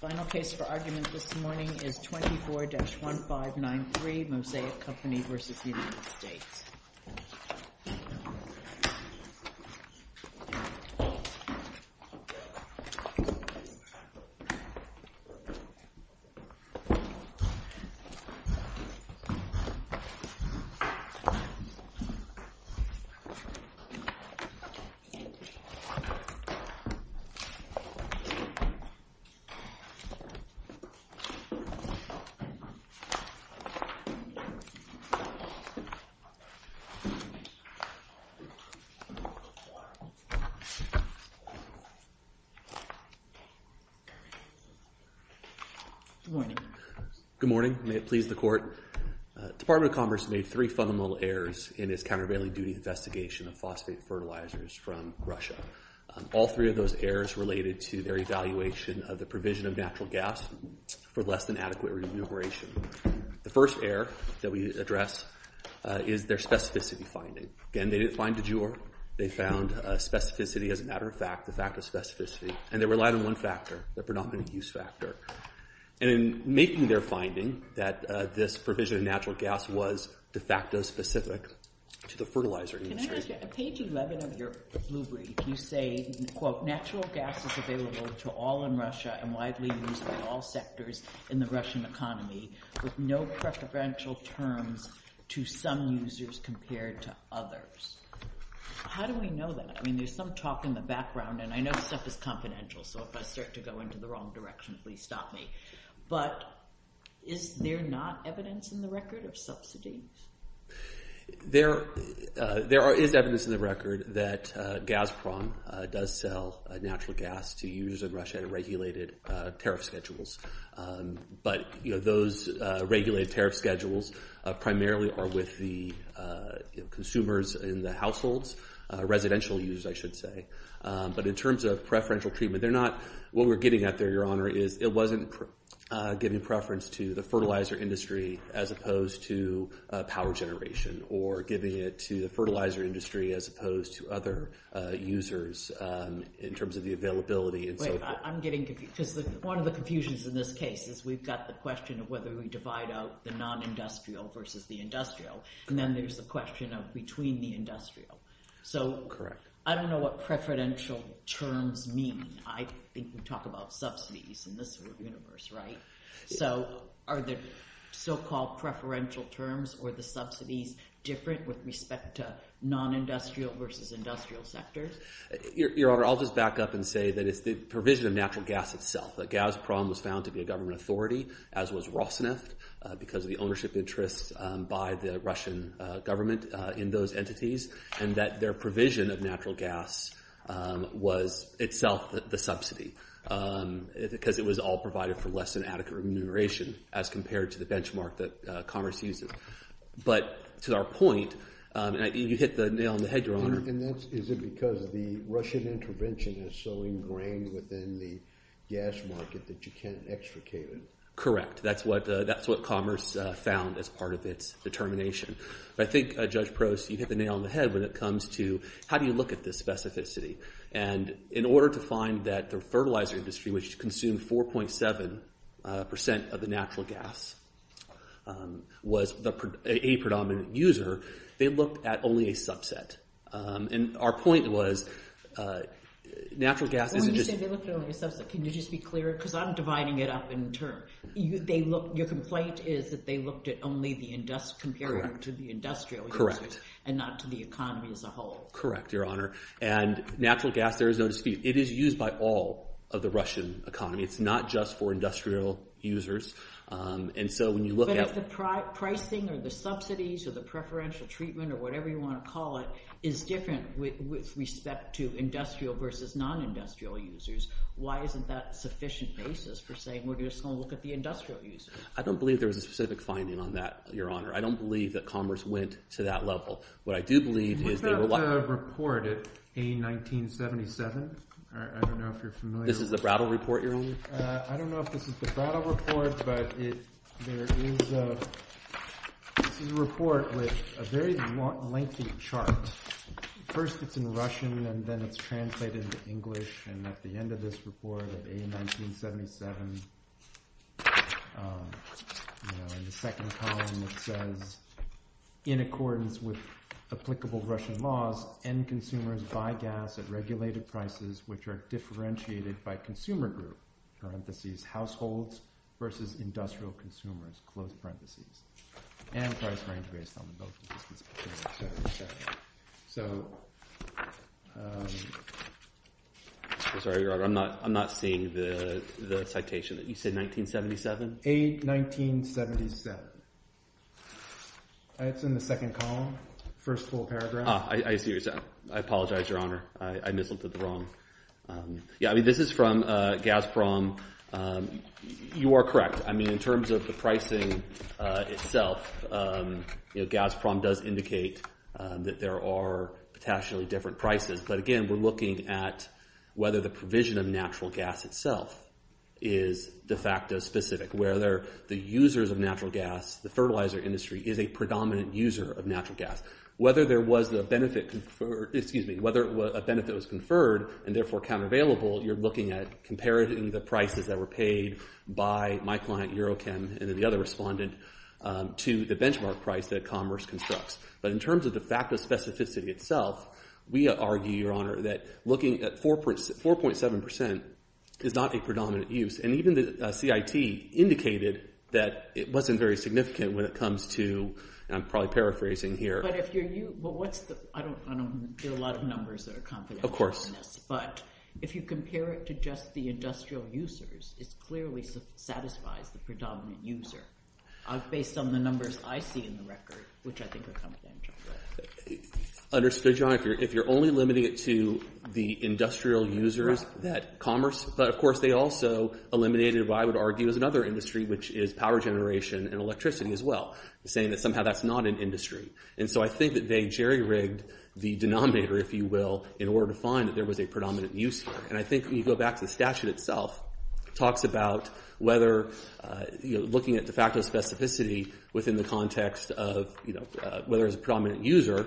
Final case for argument this morning is 24-1593, Mosaic Company v. United States. Good morning. Good morning. May it please the Court. Department of Commerce made three fundamental errors in its countervailing duty investigation of phosphate fertilizers from Russia. All three of those errors related to their evaluation of the provision of natural gas for less than adequate remuneration. The first error that we address is their specificity finding. Again, they didn't find a juror. They found a specificity as a matter of fact, the fact of specificity, and they relied on one factor, the predominant use factor. In making their finding that this provision of natural gas was de facto specific to the fertilizer industry. Can I ask you, on page 11 of your blue brief, you say, quote, natural gas is available to all in Russia and widely used by all sectors in the Russian economy with no preferential terms to some users compared to others. How do we know that? I mean, there's some talk in the background, and I know stuff is confidential, so if I start to go into the wrong direction, please stop me. But is there not evidence in the record of subsidies? There is evidence in the record that Gazprom does sell natural gas to use in Russia at regulated tariff schedules. But those regulated tariff schedules primarily are with the consumers in the households, residential use, I should say. But in terms of preferential treatment, what we're getting at there, your honor, is it wasn't giving preference to the fertilizer industry as opposed to power generation, or giving it to the fertilizer industry as opposed to other users in terms of the availability. Wait, I'm getting confused. One of the confusions in this case is we've got the question of whether we divide out the non-industrial versus the industrial, and then there's the question of between the industrial. So I don't know what preferential terms mean. I think we talk about subsidies in this universe, right? So are the so-called preferential terms or the subsidies different with respect to non-industrial versus industrial sectors? Your honor, I'll just back up and say that it's the provision of natural gas itself. Gazprom was found to be a government authority, as was Rosneft, because of the ownership interests by the Russian government in those entities, and that their provision of natural gas was itself the subsidy, because it was all provided for less than adequate remuneration as compared to the benchmark that Commerce uses. But to our point, and you hit the nail on the head, your honor. And is it because the Russian intervention is so ingrained within the gas market that you can't extricate it? Correct. That's what Commerce found as part of its determination. But I think, Judge Prost, you hit the nail on the head when it comes to how do you look at this specificity? And in order to find that the fertilizer industry, which consumed 4.7% of the natural gas, was a predominant user, they looked at only a subset. And our point was, natural gas is... When you say they looked at only a subset, can you just be clearer? Because I'm dividing it up in terms. Your complaint is that they looked at only the industrial, compared to the industrial users. Correct. And not to the economy as a whole. Correct, your honor. And natural gas, there is no dispute. It is used by all of the Russian economy. It's not just for industrial users. And so when you look at... But if the pricing, or the subsidies, or the preferential treatment, or whatever you want to call it, is different with respect to industrial versus non-industrial users, why isn't that sufficient basis for saying we're just going to look at the industrial users? I don't believe there was a specific finding on that, your honor. I don't believe that commerce went to that level. What I do believe is... What about the report at A1977? I don't know if you're familiar with it. This is the Brattle report, your honor? I don't know if this is the Brattle report, but there is a report with a very lengthy chart. First it's in Russian, and then it's translated into English. And at the end of this report at A1977, in the second column it says, in accordance with applicable Russian laws, end consumers buy gas at regulated prices which are differentiated by consumer group, parentheses, households versus the citation that you said, 1977? A1977. It's in the second column, first full paragraph. I see what you're saying. I apologize, your honor. I misinterpreted the wrong... Yeah, I mean, this is from Gazprom. You are correct. I mean, in terms of the pricing itself, Gazprom does indicate that there are potentially different prices. But again, we're looking at whether the provision of natural gas itself is de facto specific, whether the users of natural gas, the fertilizer industry, is a predominant user of natural gas. Whether there was a benefit conferred... Excuse me. Whether a benefit was conferred and therefore countervailable, you're looking at comparing the prices that were paid by my client, Eurochem, and then the other respondent to the benchmark price that Commerce constructs. But in terms of de facto specificity itself, we argue, your honor, that looking at 4.7% is not a predominant use. And even the CIT indicated that it wasn't very significant when it comes to, and I'm probably paraphrasing here... But if you're... I don't get a lot of numbers that are confident in this. Of course. But if you compare it to just the industrial users, it clearly satisfies the predominant user. I've based some of the numbers I see in the record, which I think are confidential. Understood, your honor. If you're only limiting it to the industrial users, that Commerce... But of course, they also eliminated what I would argue is another industry, which is power generation and electricity as well, saying that somehow that's not an industry. And so I think that they jerry-rigged the denominator, if you will, in order to find that there was a predominant user. And I think when you go back to the statute itself, it talks about whether looking at de facto specificity within the context of whether there's a predominant user or not,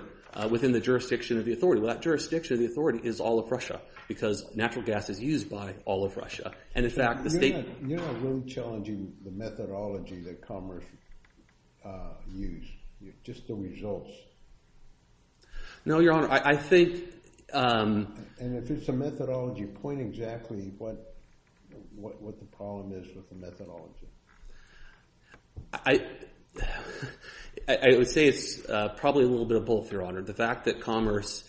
there's a predominant user within the jurisdiction of the authority. Well, that jurisdiction of the authority is all of Russia, because natural gas is used by all of Russia. And in fact, the state... You're not really challenging the methodology that Commerce used, just the results. No, your honor. I think... And if it's a methodology, point exactly what the problem is with the methodology. I would say it's probably a little bit of both, your honor. The fact that Commerce,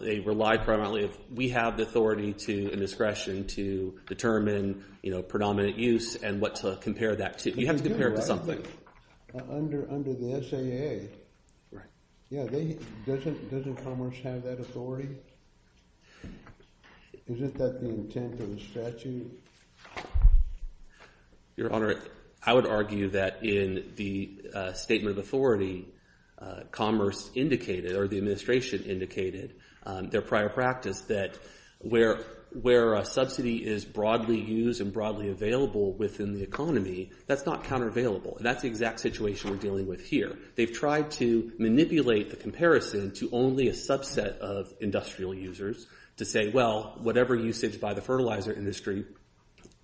they rely primarily... We have the authority and discretion to determine predominant use and what to compare that to. You have to compare it to something. Under the SAA, doesn't Commerce have that authority? Isn't that the intent of the statute? Your honor, I would argue that in the statement of authority, Commerce indicated, or the administration indicated, their prior practice that where a subsidy is broadly used and broadly available within the economy, that's not counter-available. And that's the exact situation we're dealing with here. They've tried to manipulate the comparison to only a subset of industrial users to say, well, whatever usage by the fertilizer industry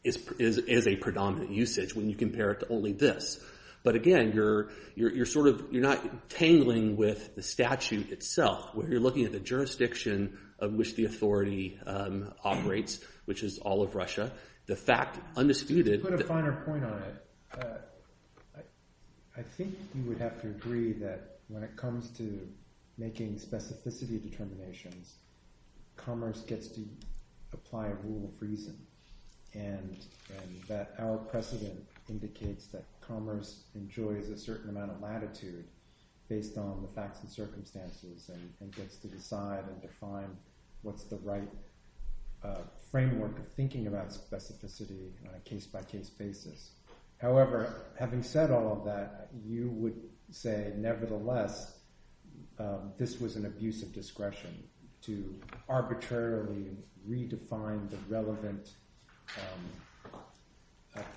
is a predominant usage when you compare it to only this. But again, you're not tangling with the statute itself, where you're looking at the jurisdiction of which the authority operates, which is all of Russia. To put a finer point on it, I think you would have to agree that when it comes to making specificity determinations, Commerce gets to apply a rule of reason. And that our precedent indicates that Commerce enjoys a certain amount of latitude based on the facts and circumstances and gets to decide and define what's the right framework of thinking about specificity on a case-by-case basis. However, having said all of that, you would say, nevertheless, this was an abuse of discretion to arbitrarily redefine the relevant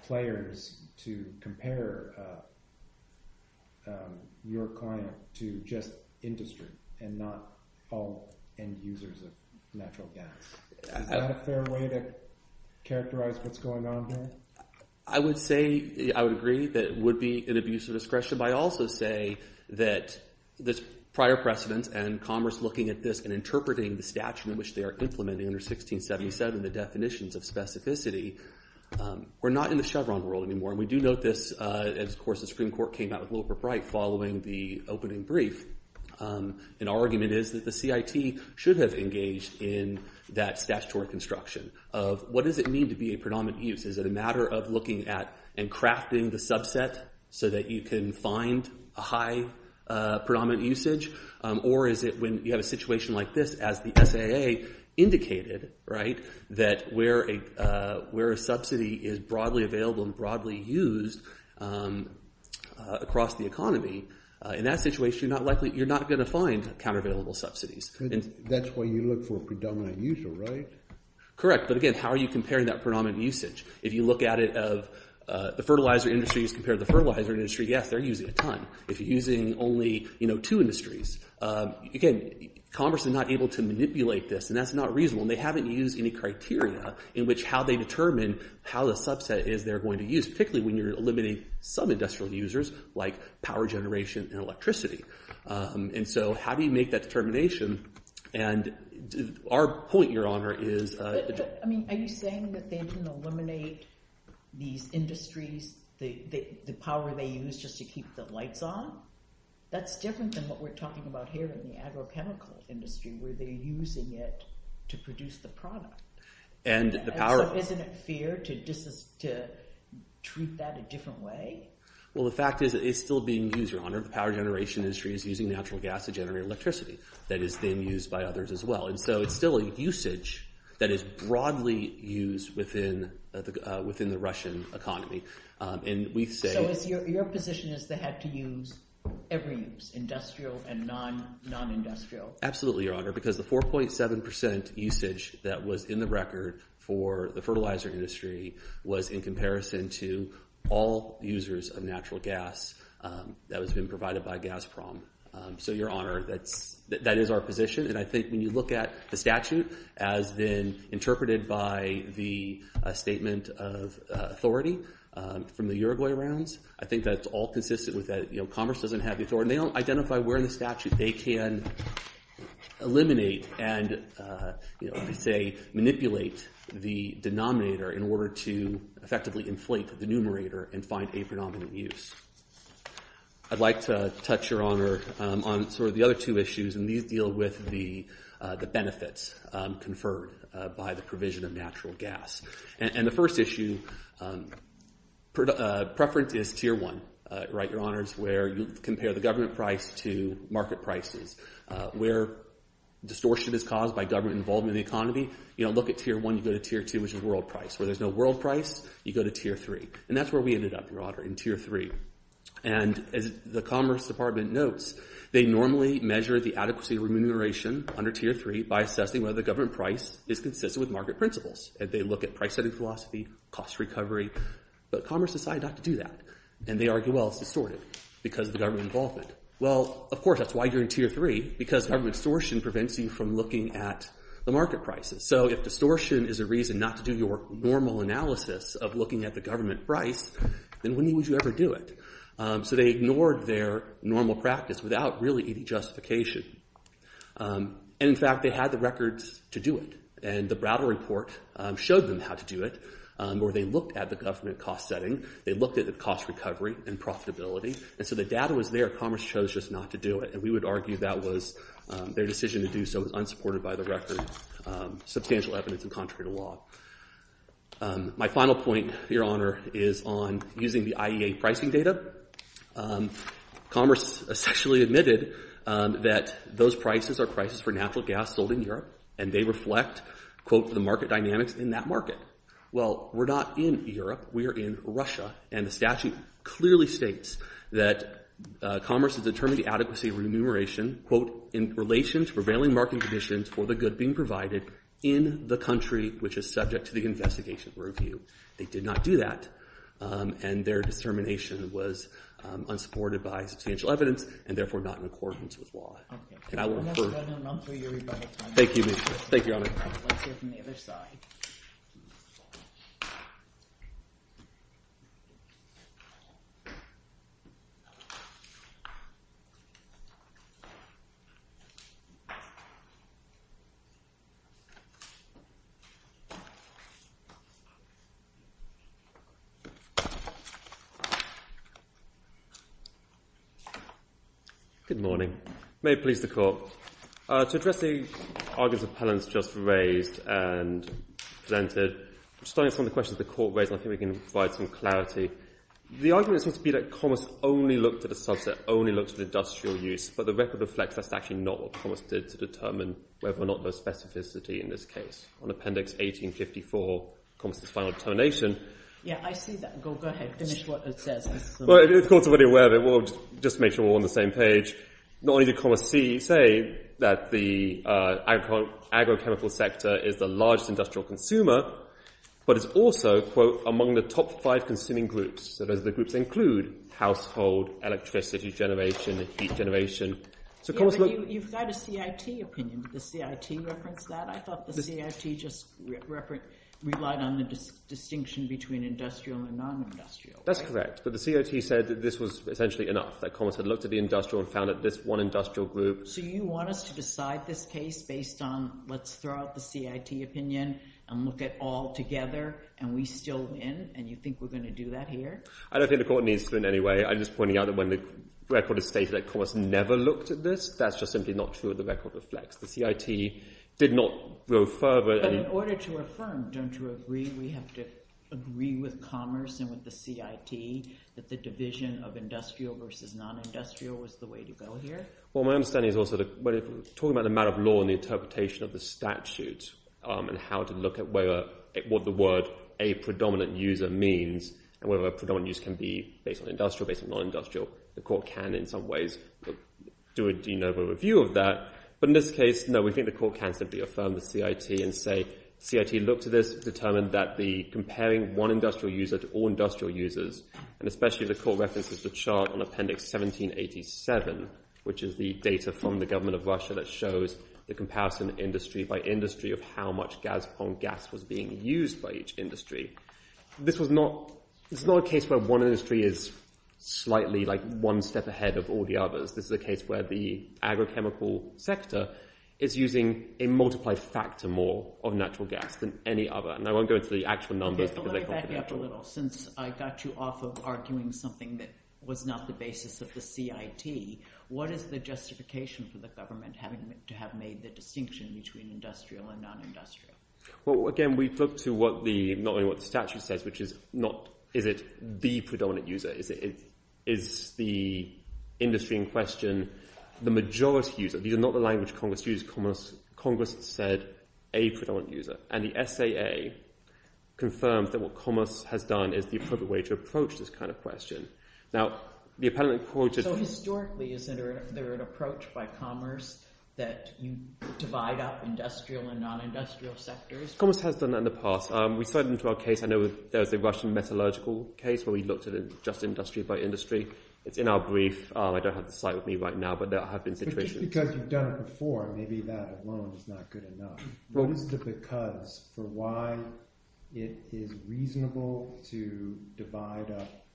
players to compare your client to just industry and not all end users of natural gas. Is that a fair way to characterize what's going on here? I would agree that it would be an abuse of discretion. But I also say that this prior precedent and Commerce looking at this and interpreting the statute in which they are implementing under 1677 the definitions of specificity, we're not in the Chevron world anymore. And we do note this as, of course, the Supreme Court came out with Lillipup Wright following the opening brief. And our argument is that the CIT should have engaged in that statutory construction of what does it mean to be a predominant use? Is it a matter of looking at and crafting the subset so that you can find a high predominant usage? Or is it when you have a situation like this as the SAA indicated that where a subsidy is broadly available and broadly used across the economy, in that situation, you're not going to find countervailable subsidies. That's why you look for a predominant user, right? Correct. But again, how are you comparing that predominant usage? If you look at it of the fertilizer industry as compared to the fertilizer industry, yes, they're using a ton. If you're using only two industries, again, Commerce is not able to manipulate this, and that's not reasonable. And they haven't used any criteria in which how they determine how the subset is they're going to use, particularly when you're eliminating some industrial users like power generation and electricity. And so how do you make that determination? Are you saying that they didn't eliminate these industries, the power they use just to keep the lights on? That's different than what we're talking about here in the agrochemical industry where they're using it to produce the product. And so isn't it fair to treat that a different way? Well, the fact is that it's still being used, Your Honor. Most of the power generation industry is using natural gas to generate electricity that is then used by others as well. And so it's still a usage that is broadly used within the Russian economy. So your position is they had to use every use, industrial and non-industrial? Absolutely, Your Honor, because the 4.7 percent usage that was in the record for the fertilizer industry was in comparison to all users of natural gas that was being provided by Gazprom. So, Your Honor, that is our position. And I think when you look at the statute as then interpreted by the statement of authority from the Uruguay rounds, I think that's all consistent with that. They don't identify where in the statute they can eliminate and, say, manipulate the denominator in order to effectively inflate the numerator and find a predominant use. I'd like to touch, Your Honor, on sort of the other two issues, and these deal with the benefits conferred by the provision of natural gas. And the first issue, preference is Tier 1, right, Your Honors, where you compare the government price to market prices. Where distortion is caused by government involvement in the economy, you don't look at Tier 1, you go to Tier 2, which is world price. Where there's no world price, you go to Tier 3. And that's where we ended up, Your Honor, in Tier 3. And as the Commerce Department notes, they normally measure the adequacy of remuneration under Tier 3 by assessing whether the government price is consistent with market principles. And they look at price-setting philosophy, cost recovery, but Commerce decided not to do that. And they argue, well, it's distorted because of the government involvement. Well, of course, that's why you're in Tier 3, because government distortion prevents you from looking at the market prices. So if distortion is a reason not to do your normal analysis of looking at the government price, then when would you ever do it? So they ignored their normal practice without really any justification. And, in fact, they had the records to do it. And the Browder report showed them how to do it, where they looked at the government cost setting. They looked at the cost recovery and profitability. And so the data was there. Commerce chose just not to do it. And we would argue that their decision to do so was unsupported by the record, substantial evidence and contrary to law. My final point, Your Honor, is on using the IEA pricing data. Commerce essentially admitted that those prices are prices for natural gas sold in Europe. And they reflect, quote, the market dynamics in that market. Well, we're not in Europe. We are in Russia. And the statute clearly states that Commerce has determined the adequacy of remuneration, quote, in relation to prevailing market conditions for the good being provided in the country which is subject to the investigation review. They did not do that. And their determination was unsupported by substantial evidence and, therefore, not in accordance with law. Okay. I'm going to run through your rebuttal. Thank you, Your Honor. Let's hear from the other side. Good morning. May it please the Court. To address the arguments appellants just raised and presented, starting from the questions the Court raised, I think we can provide some clarity. The argument seems to be that Commerce only looked at a subset, only looked at industrial use. But the record reflects that's actually not what Commerce did to determine whether or not there was specificity in this case. On Appendix 1854, Commerce's final determination. Yeah, I see that. Go ahead. Finish what it says. The Court's already aware of it. We'll just make sure we're on the same page. Not only did Commerce say that the agrochemical sector is the largest industrial consumer, but it's also, quote, among the top five consuming groups. So those are the groups that include household, electricity generation, heat generation. You've got a CIT opinion. Did the CIT reference that? I thought the CIT just relied on the distinction between industrial and non-industrial. That's correct. But the CIT said that this was essentially enough, that Commerce had looked at the industrial and found that this one industrial group. So you want us to decide this case based on let's throw out the CIT opinion and look at all together, and we still win, and you think we're going to do that here? I don't think the Court needs to in any way. I'm just pointing out that when the record is stated that Commerce never looked at this, that's just simply not true. The record reflects. The CIT did not go further. But in order to affirm, don't you agree we have to agree with Commerce and with the CIT that the division of industrial versus non-industrial was the way to go here? Well, my understanding is also that talking about the matter of law and the interpretation of the statute and how to look at what the word a predominant user means and whether a predominant user can be based on industrial, based on non-industrial, the Court can in some ways do a review of that. But in this case, no, we think the Court can simply affirm the CIT and say, CIT looked at this, determined that comparing one industrial user to all industrial users, and especially the Court references the chart on Appendix 1787, which is the data from the government of Russia that shows the comparison industry by industry of how much gas upon gas was being used by each industry. This is not a case where one industry is slightly one step ahead of all the others. This is a case where the agrochemical sector is using a multiplied factor more of natural gas than any other. And I won't go into the actual numbers because they're confidential. OK, but let me back you up a little. Since I got you off of arguing something that was not the basis of the CIT, what is the justification for the government having to have made the distinction between industrial and non-industrial? Well, again, we look to not only what the statute says, which is not, is it the predominant user? Is the industry in question the majority user? These are not the language Congress used. Congress said a predominant user. And the SAA confirms that what Commerce has done is the appropriate way to approach this kind of question. So historically, is there an approach by Commerce that you divide up industrial and non-industrial sectors? Commerce has done that in the past. I know there's a Russian metallurgical case where we looked at just industry by industry. It's in our brief. I don't have the site with me right now, but there have been situations. But just because you've done it before, maybe that alone is not good enough. What is the because for why it is reasonable to divide up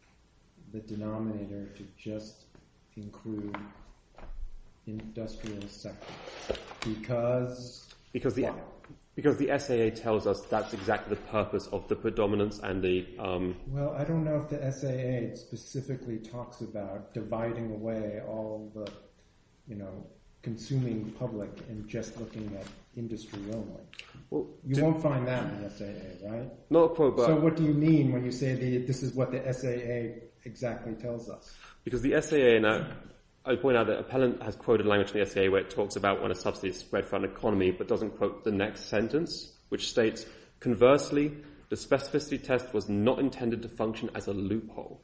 the denominator to just include industrial sectors? Because the SAA tells us that's exactly the purpose of the predominance. Well, I don't know if the SAA specifically talks about dividing away all the consuming public and just looking at industry only. You won't find that in the SAA, right? So what do you mean when you say this is what the SAA exactly tells us? I point out that Appellant has quoted language in the SAA where it talks about when a subsidy is spread throughout an economy, but doesn't quote the next sentence, which states, Conversely, the specificity test was not intended to function as a loophole.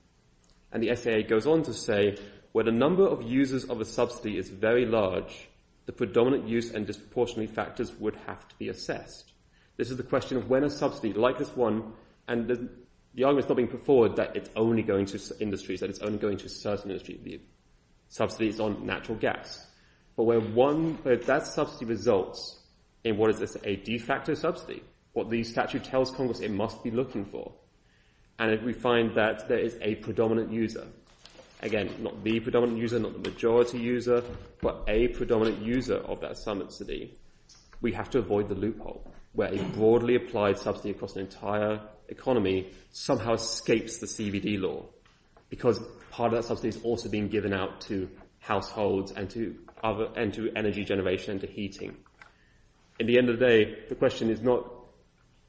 And the SAA goes on to say, Where the number of users of a subsidy is very large, the predominant use and disproportionate factors would have to be assessed. This is the question of when a subsidy, like this one, and the argument is not being put forward that it's only going to certain industries. The subsidy is on natural gas. But where that subsidy results in what is a de facto subsidy, what the statute tells Congress it must be looking for, and if we find that there is a predominant user, again, not the predominant user, not the majority user, but a predominant user of that subsidy, we have to avoid the loophole, where a broadly applied subsidy across an entire economy somehow escapes the CBD law, because part of that subsidy is also being given out to households and to energy generation and to heating. At the end of the day, the question is not...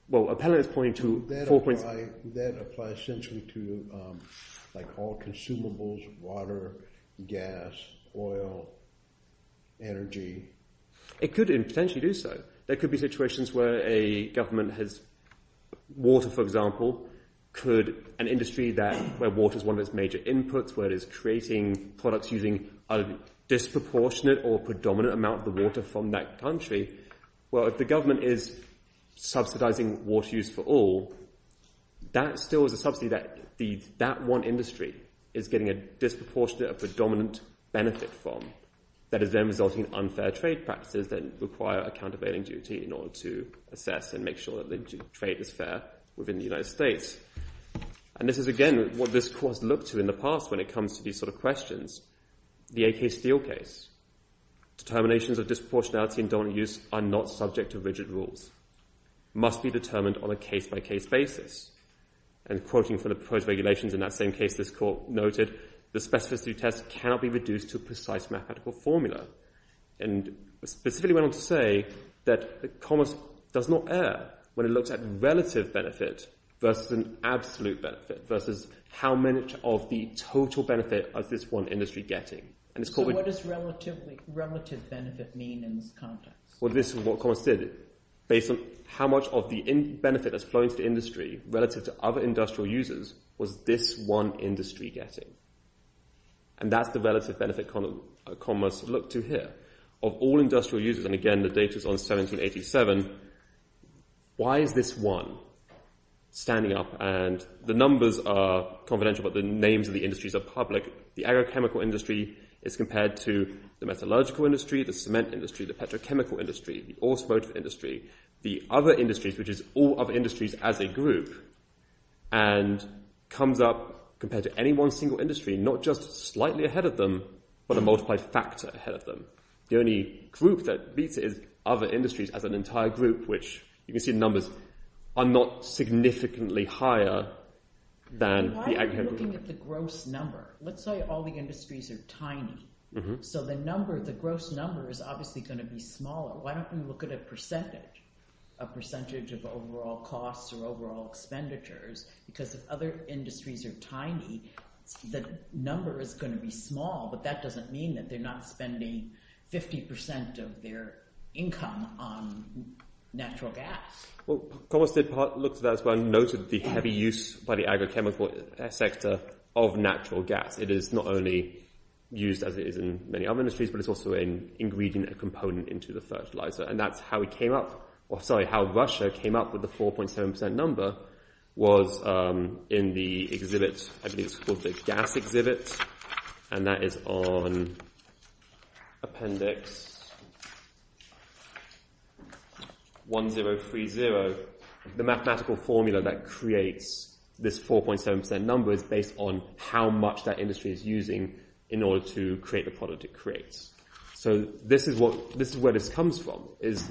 Well, Appellant is pointing to... That applies essentially to all consumables, water, gas, oil, energy. It could potentially do so. There could be situations where a government has... Water, for example, could... An industry where water is one of its major inputs, where it is creating products using a disproportionate or predominant amount of the water from that country, well, if the government is subsidising water use for all, that still is a subsidy that that one industry is getting a disproportionate or predominant benefit from that is then resulting in unfair trade practices that require a countervailing duty in order to assess and make sure that the trade is fair within the United States. And this is, again, what this court has looked to in the past when it comes to these sort of questions. The AK Steel case. Determinations of disproportionality and dominant use are not subject to rigid rules, must be determined on a case-by-case basis. And quoting from the proposed regulations in that same case, this court noted the specificity test cannot be reduced to a precise mathematical formula and specifically went on to say that the commerce does not err when it looks at relative benefit versus an absolute benefit, versus how much of the total benefit is this one industry getting. So what does relative benefit mean in this context? Well, this is what commerce did. Based on how much of the benefit that's flowing to the industry relative to other industrial users was this one industry getting. And that's the relative benefit commerce looked to here. Of all industrial users, and again the data's on 1787, why is this one standing up? And the numbers are confidential, but the names of the industries are public. The agrochemical industry is compared to the metallurgical industry, the cement industry, the petrochemical industry, the automotive industry, the other industries, which is all other industries as a group. And comes up compared to any one single industry, not just slightly ahead of them, but a multiplied factor ahead of them. The only group that beats it is other industries as an entire group, which you can see the numbers are not significantly higher than the agrochemical industry. Why are we looking at the gross number? Let's say all the industries are tiny. So the gross number is obviously going to be smaller. Why don't we look at a percentage? A percentage of overall costs or overall expenditures? Because if other industries are tiny, the number is going to be small, but that doesn't mean that they're not spending 50% of their income on natural gas. Commerce looked at that as well and noted the heavy use by the agrochemical sector of natural gas. It is not only used as it is in many other industries, but it's also an ingredient, a component into the fertilizer. And that's how Russia came up with the 4.7% number was in the exhibit, I believe it's called the Gas Exhibit, and that is on Appendix 1030. The mathematical formula that creates this 4.7% number is based on how much that industry is using in order to create the product it creates. So this is where this comes from. It's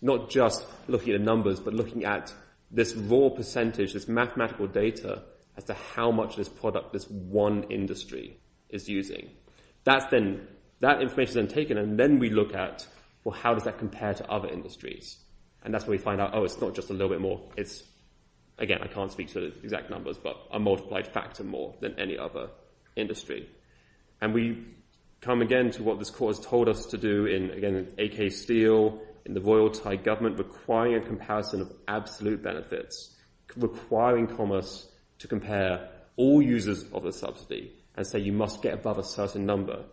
not just looking at numbers, but looking at this raw percentage, this mathematical data as to how much of this product this one industry is using. That information is then taken and then we look at, well, how does that compare to other industries? And that's where we find out, oh, it's not just a little bit more. Again, I can't speak to the exact numbers, but a multiplied factor more than any other industry. And we come again to what this court has told us to do in AK Steel, in the Royal Thai Government, requiring a comparison of absolute benefits, requiring Commerce to compare all users of a subsidy and say you must get above a certain number.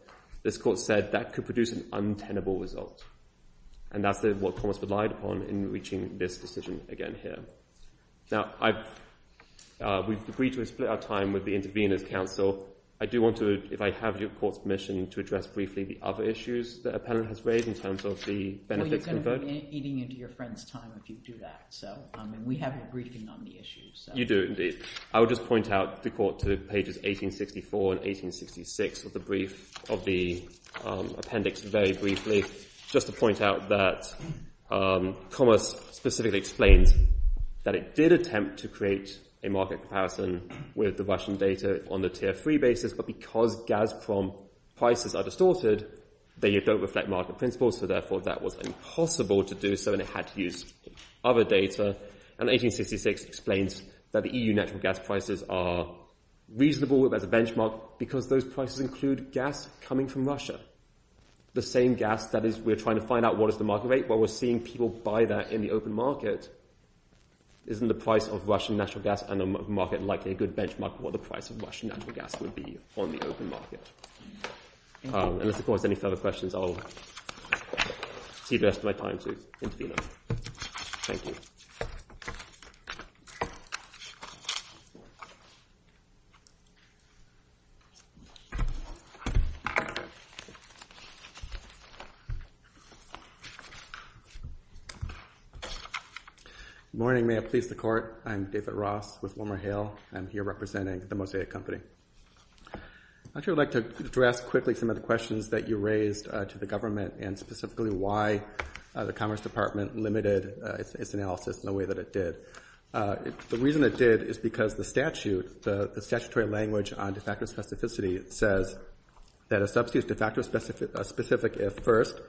This court said that could produce an untenable result. And that's what Commerce relied upon in reaching this decision again here. Now, we've agreed to split our time with the Intervenors' Council. I do want to, if I have your court's permission, to address briefly the other issues the appellant has raised in terms of the benefits. Well, you're going to be eating into your friend's time if you do that, and we have a briefing on the issues. You do indeed. I will just point out the court to pages 1864 and 1866 of the appendix very briefly. Just to point out that Commerce specifically explains that it did attempt to create a market comparison with the Russian data on the tier 3 basis, but because Gazprom prices are distorted, they don't reflect market principles, so therefore that was impossible to do so and it had to use other data. And 1866 explains that the EU natural gas prices are reasonable as a benchmark because those prices include gas coming from Russia, the same gas that we're trying to find out what is the market rate. Well, we're seeing people buy that in the open market. Isn't the price of Russian natural gas in the market likely a good benchmark for what the price of Russian natural gas would be on the open market? Unless, of course, there are any further questions, I'll see the rest of my time to Intervenors. Thank you. Morning. May it please the Court. I'm David Ross with WilmerHale. I'm here representing the Mosaic Company. I'd actually like to address quickly some of the questions that you raised to the government and specifically why the Commerce Department limited its analysis in the way that it did. The reason it did is because the statute, the statutory language on de facto specificity, says that a substance de facto specificity is a specific if first.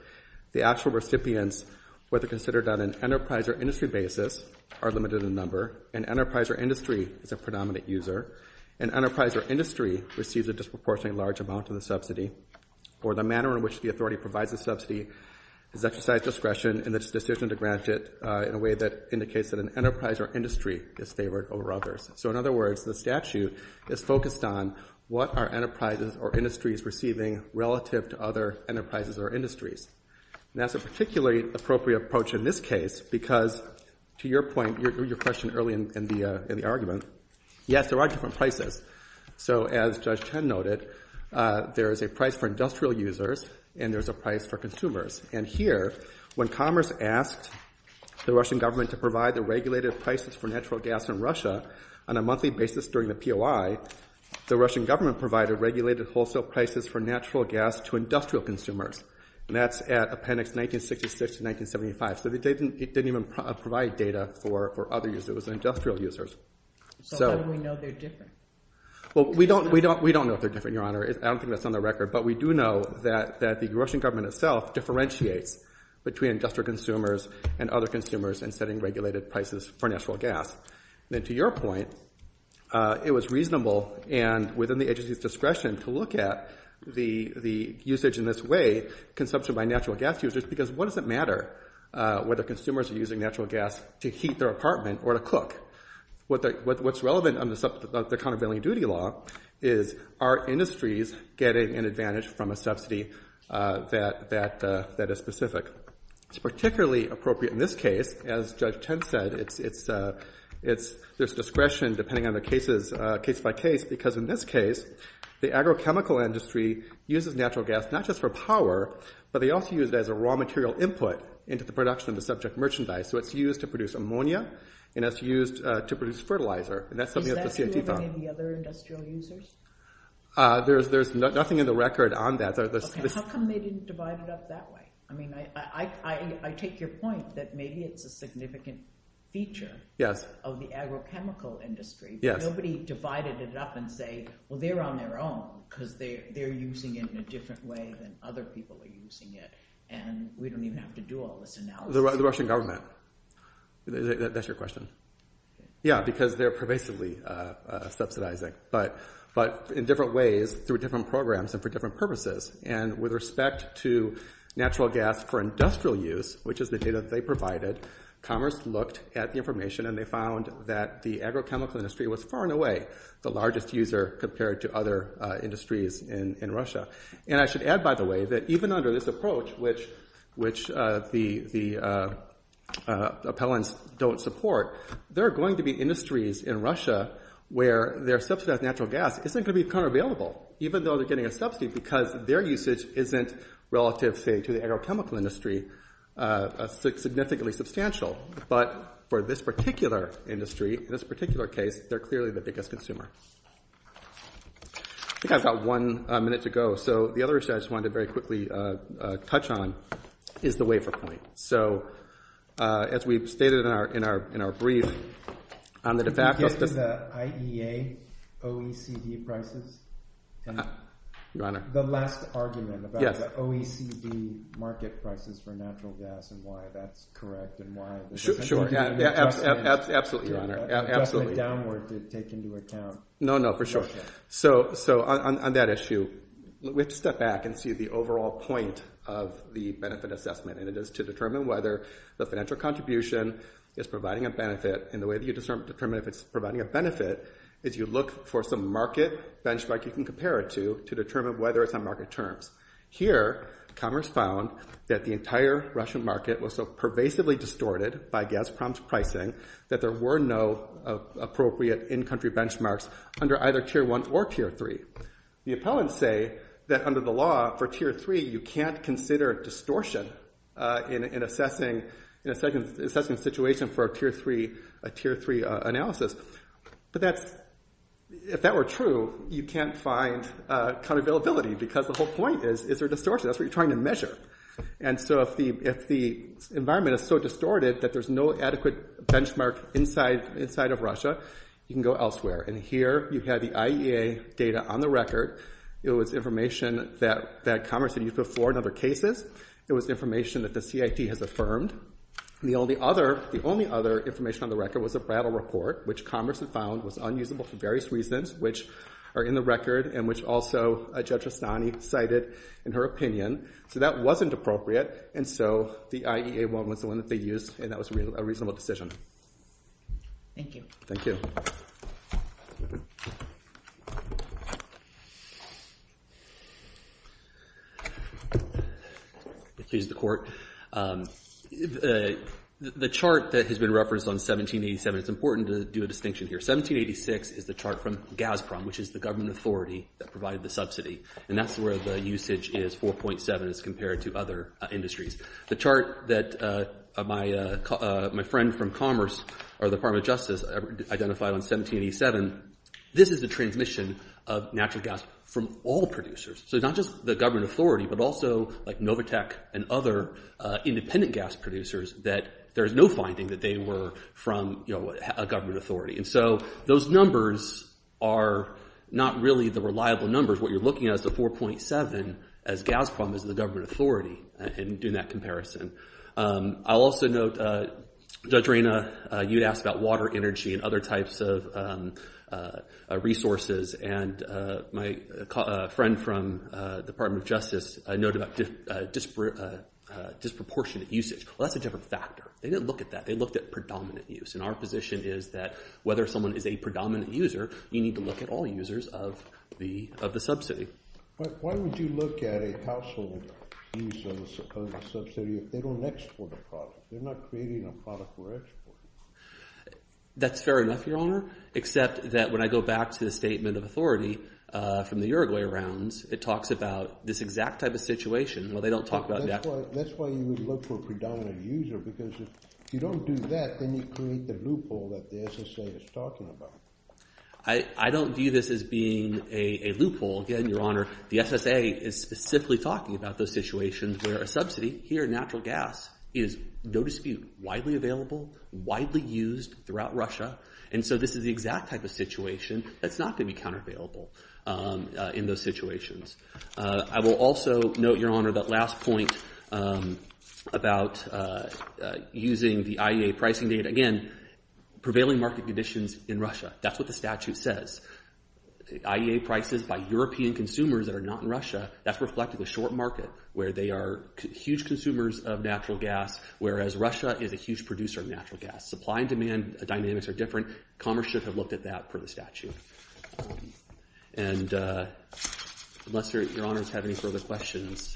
The actual recipients, whether considered on an enterprise or industry basis, are limited in number. An enterprise or industry is a predominant user. An enterprise or industry receives a disproportionately large amount of the subsidy or the manner in which the authority provides the subsidy is exercised discretion in its decision to grant it in a way that indicates that an enterprise or industry is favored over others. So in other words, the statute is focused on what are enterprises or industries receiving relative to other enterprises or industries? And that's a particularly appropriate approach in this case because, to your point, your question early in the argument, yes, there are different prices. So as Judge Chen noted, there is a price for industrial users and there's a price for consumers. And here, when Commerce asked the Russian government to provide the regulated prices for natural gas in Russia on a monthly basis during the POI, the Russian government provided regulated wholesale prices for natural gas to industrial consumers. And that's at appendix 1966 to 1975. So it didn't even provide data for other users. It was industrial users. So how do we know they're different? Well, we don't know if they're different, Your Honor. I don't think that's on the record. But we do know that the Russian government itself differentiates between industrial consumers and other consumers in setting regulated prices for natural gas. And to your point, it was reasonable and within the agency's discretion to look at the usage in this way, consumption by natural gas users, because what does it matter whether consumers are using natural gas to heat their apartment or to cook? What's relevant under the countervailing duty law is are industries getting an advantage from a subsidy that is specific? It's particularly appropriate in this case. As Judge Chen said, there's discretion, depending on the cases, case by case, because in this case, the agrochemical industry uses natural gas not just for power, but they also use it as a raw material input into the production of the subject merchandise. So it's used to produce ammonia, and it's used to produce fertilizer. And that's something that the CIT found. Is that relevant in the other industrial users? There's nothing in the record on that. How come they didn't divide it up that way? I mean, I take your point that maybe it's a significant feature of the agrochemical industry, but nobody divided it up and say, well, they're on their own because they're using it in a different way than other people are using it, and we don't even have to do all this analysis. The Russian government. That's your question. Yeah, because they're pervasively subsidizing, but in different ways through different programs and for different purposes. And with respect to natural gas for industrial use, which is the data that they provided, Commerce looked at the information, and they found that the agrochemical industry was far and away the largest user compared to other industries in Russia. And I should add, by the way, that even under this approach, which the appellants don't support, there are going to be industries in Russia where their subsidized natural gas isn't going to become available, even though they're getting a subsidy because their usage isn't relative, say, to the agrochemical industry significantly substantial. But for this particular industry, in this particular case, they're clearly the biggest consumer. I think I've got one minute to go, so the other issue I just wanted to very quickly touch on is the waiver point. So as we've stated in our brief, on the de facto... Can you give me the IEA OECD prices? Your Honor. The last argument about the OECD market prices for natural gas and why that's correct and why... Absolutely, Your Honor. ...downward to take into account. No, no, for sure. So on that issue, we have to step back and see the overall point of the benefit assessment, and it is to determine whether the financial contribution is providing a benefit. And the way that you determine if it's providing a benefit is you look for some market benchmark you can compare it to to determine whether it's on market terms. Here, Commerce found that the entire Russian market was so pervasively distorted by gas promise pricing that there were no appropriate in-country benchmarks under either Tier 1 or Tier 3. The appellants say that under the law for Tier 3, you can't consider distortion in assessing a situation for a Tier 3 analysis. But that's... If that were true, you can't find counter-availability because the whole point is, is there distortion? That's what you're trying to measure. And so if the environment is so distorted that there's no adequate benchmark inside of Russia, you can go elsewhere. And here you have the IEA data on the record. It was information that Commerce had used before in other cases. It was information that the CIT has affirmed. The only other information on the record was a brattle report, which Commerce had found was unusable for various reasons, which are in the record and which also Judge Astani cited in her opinion. So that wasn't appropriate, and so the IEA one was the one that they used, and that was a reasonable decision. Thank you. Thank you. Excuse the court. The chart that has been referenced on 1787, it's important to do a distinction here. 1786 is the chart from Gazprom, which is the government authority that provided the subsidy, and that's where the usage is 4.7 as compared to other industries. The chart that my friend from Commerce or the Department of Justice identified on 1787, this is the transmission of natural gas from all producers. So it's not just the government authority, but also, like, Novotec and other independent gas producers that there's no finding that they were from, you know, a government authority. And so those numbers are not really the reliable numbers. What you're looking at is the 4.7 as Gazprom is the government authority in doing that comparison. I'll also note, Judge Reyna, you'd asked about water, energy, and other types of resources, and my friend from the Department of Justice noted about disproportionate usage. That's a different factor. They didn't look at that. And our position is that whether someone is a predominant user, you need to look at all users of the subsidy. Why would you look at a household use of a subsidy if they don't export a product? They're not creating a product for export. That's fair enough, Your Honor, except that when I go back to the statement of authority from the Uruguay rounds, it talks about this exact type of situation. Well, they don't talk about that. That's why you would look for a predominant user because if you don't do that, then you create the loophole that the SSA is talking about. I don't view this as being a loophole. Again, Your Honor, the SSA is specifically talking about those situations where a subsidy, here in natural gas, is, no dispute, widely available, widely used throughout Russia, and so this is the exact type of situation that's not going to be countervailable in those situations. I will also note, Your Honor, that last point about using the IEA pricing data, again, prevailing market conditions in Russia. That's what the statute says. IEA prices by European consumers that are not in Russia, that's reflecting a short market where they are huge consumers of natural gas, whereas Russia is a huge producer of natural gas. Supply and demand dynamics are different. Commerce should have looked at that per the statute. And unless Your Honors have any further questions... Thank you.